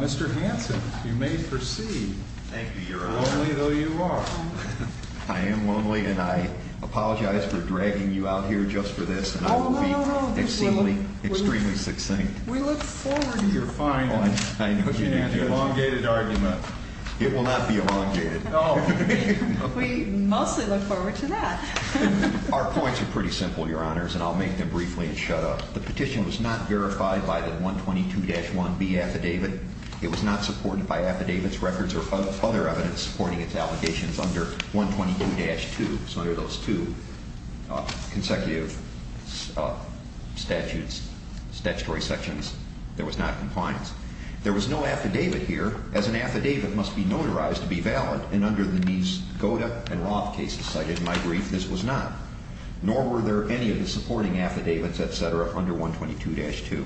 Mr. Hanson, you may proceed, lonely though you are. I am lonely and I apologize for dragging you out here just for this. I will be extremely, extremely succinct. We look forward to your final. I know you have an elongated argument. It will not be elongated. We mostly look forward to that. Our points are pretty simple, your honors, and I'll make them briefly and shut up. The petition was not verified by the 122-1B affidavit. It was not supported by affidavits, records, or other evidence supporting its allegations under 122-2. So under those two consecutive statutes, statutory sections, there was not compliance. There was no affidavit here, as an affidavit must be notarized to be valid, and under the Neves, Goda, and Roth cases cited in my brief, this was not. Nor were there any of the supporting affidavits, et cetera, under 122-2.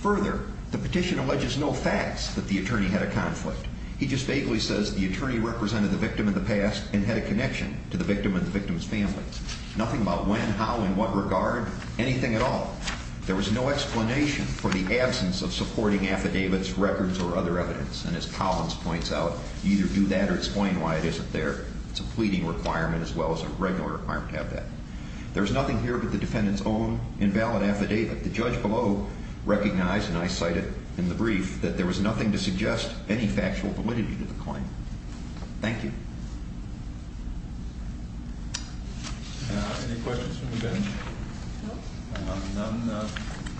Further, the petition alleges no facts that the attorney had a conflict. He just vaguely says the attorney represented the victim in the past and had a connection to the victim and the victim's family. Nothing about when, how, in what regard, anything at all. There was no explanation for the absence of supporting affidavits, records, or other evidence. And as Collins points out, you either do that or explain why it isn't there. It's a pleading requirement as well as a regular requirement to have that. There was nothing here but the defendant's own invalid affidavit. The judge below recognized, and I cite it in the brief, that there was nothing to suggest any factual validity to the claim. Thank you. Any questions from the bench?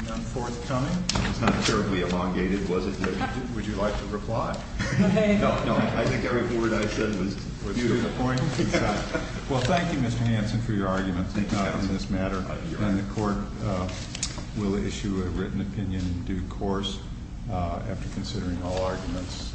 None forthcoming? It's not terribly elongated, was it? Would you like to reply? No, I think every word I said was beautiful. Well, thank you, Mr. Hanson, for your argument in this matter. The court will issue a written opinion in due course after considering all arguments.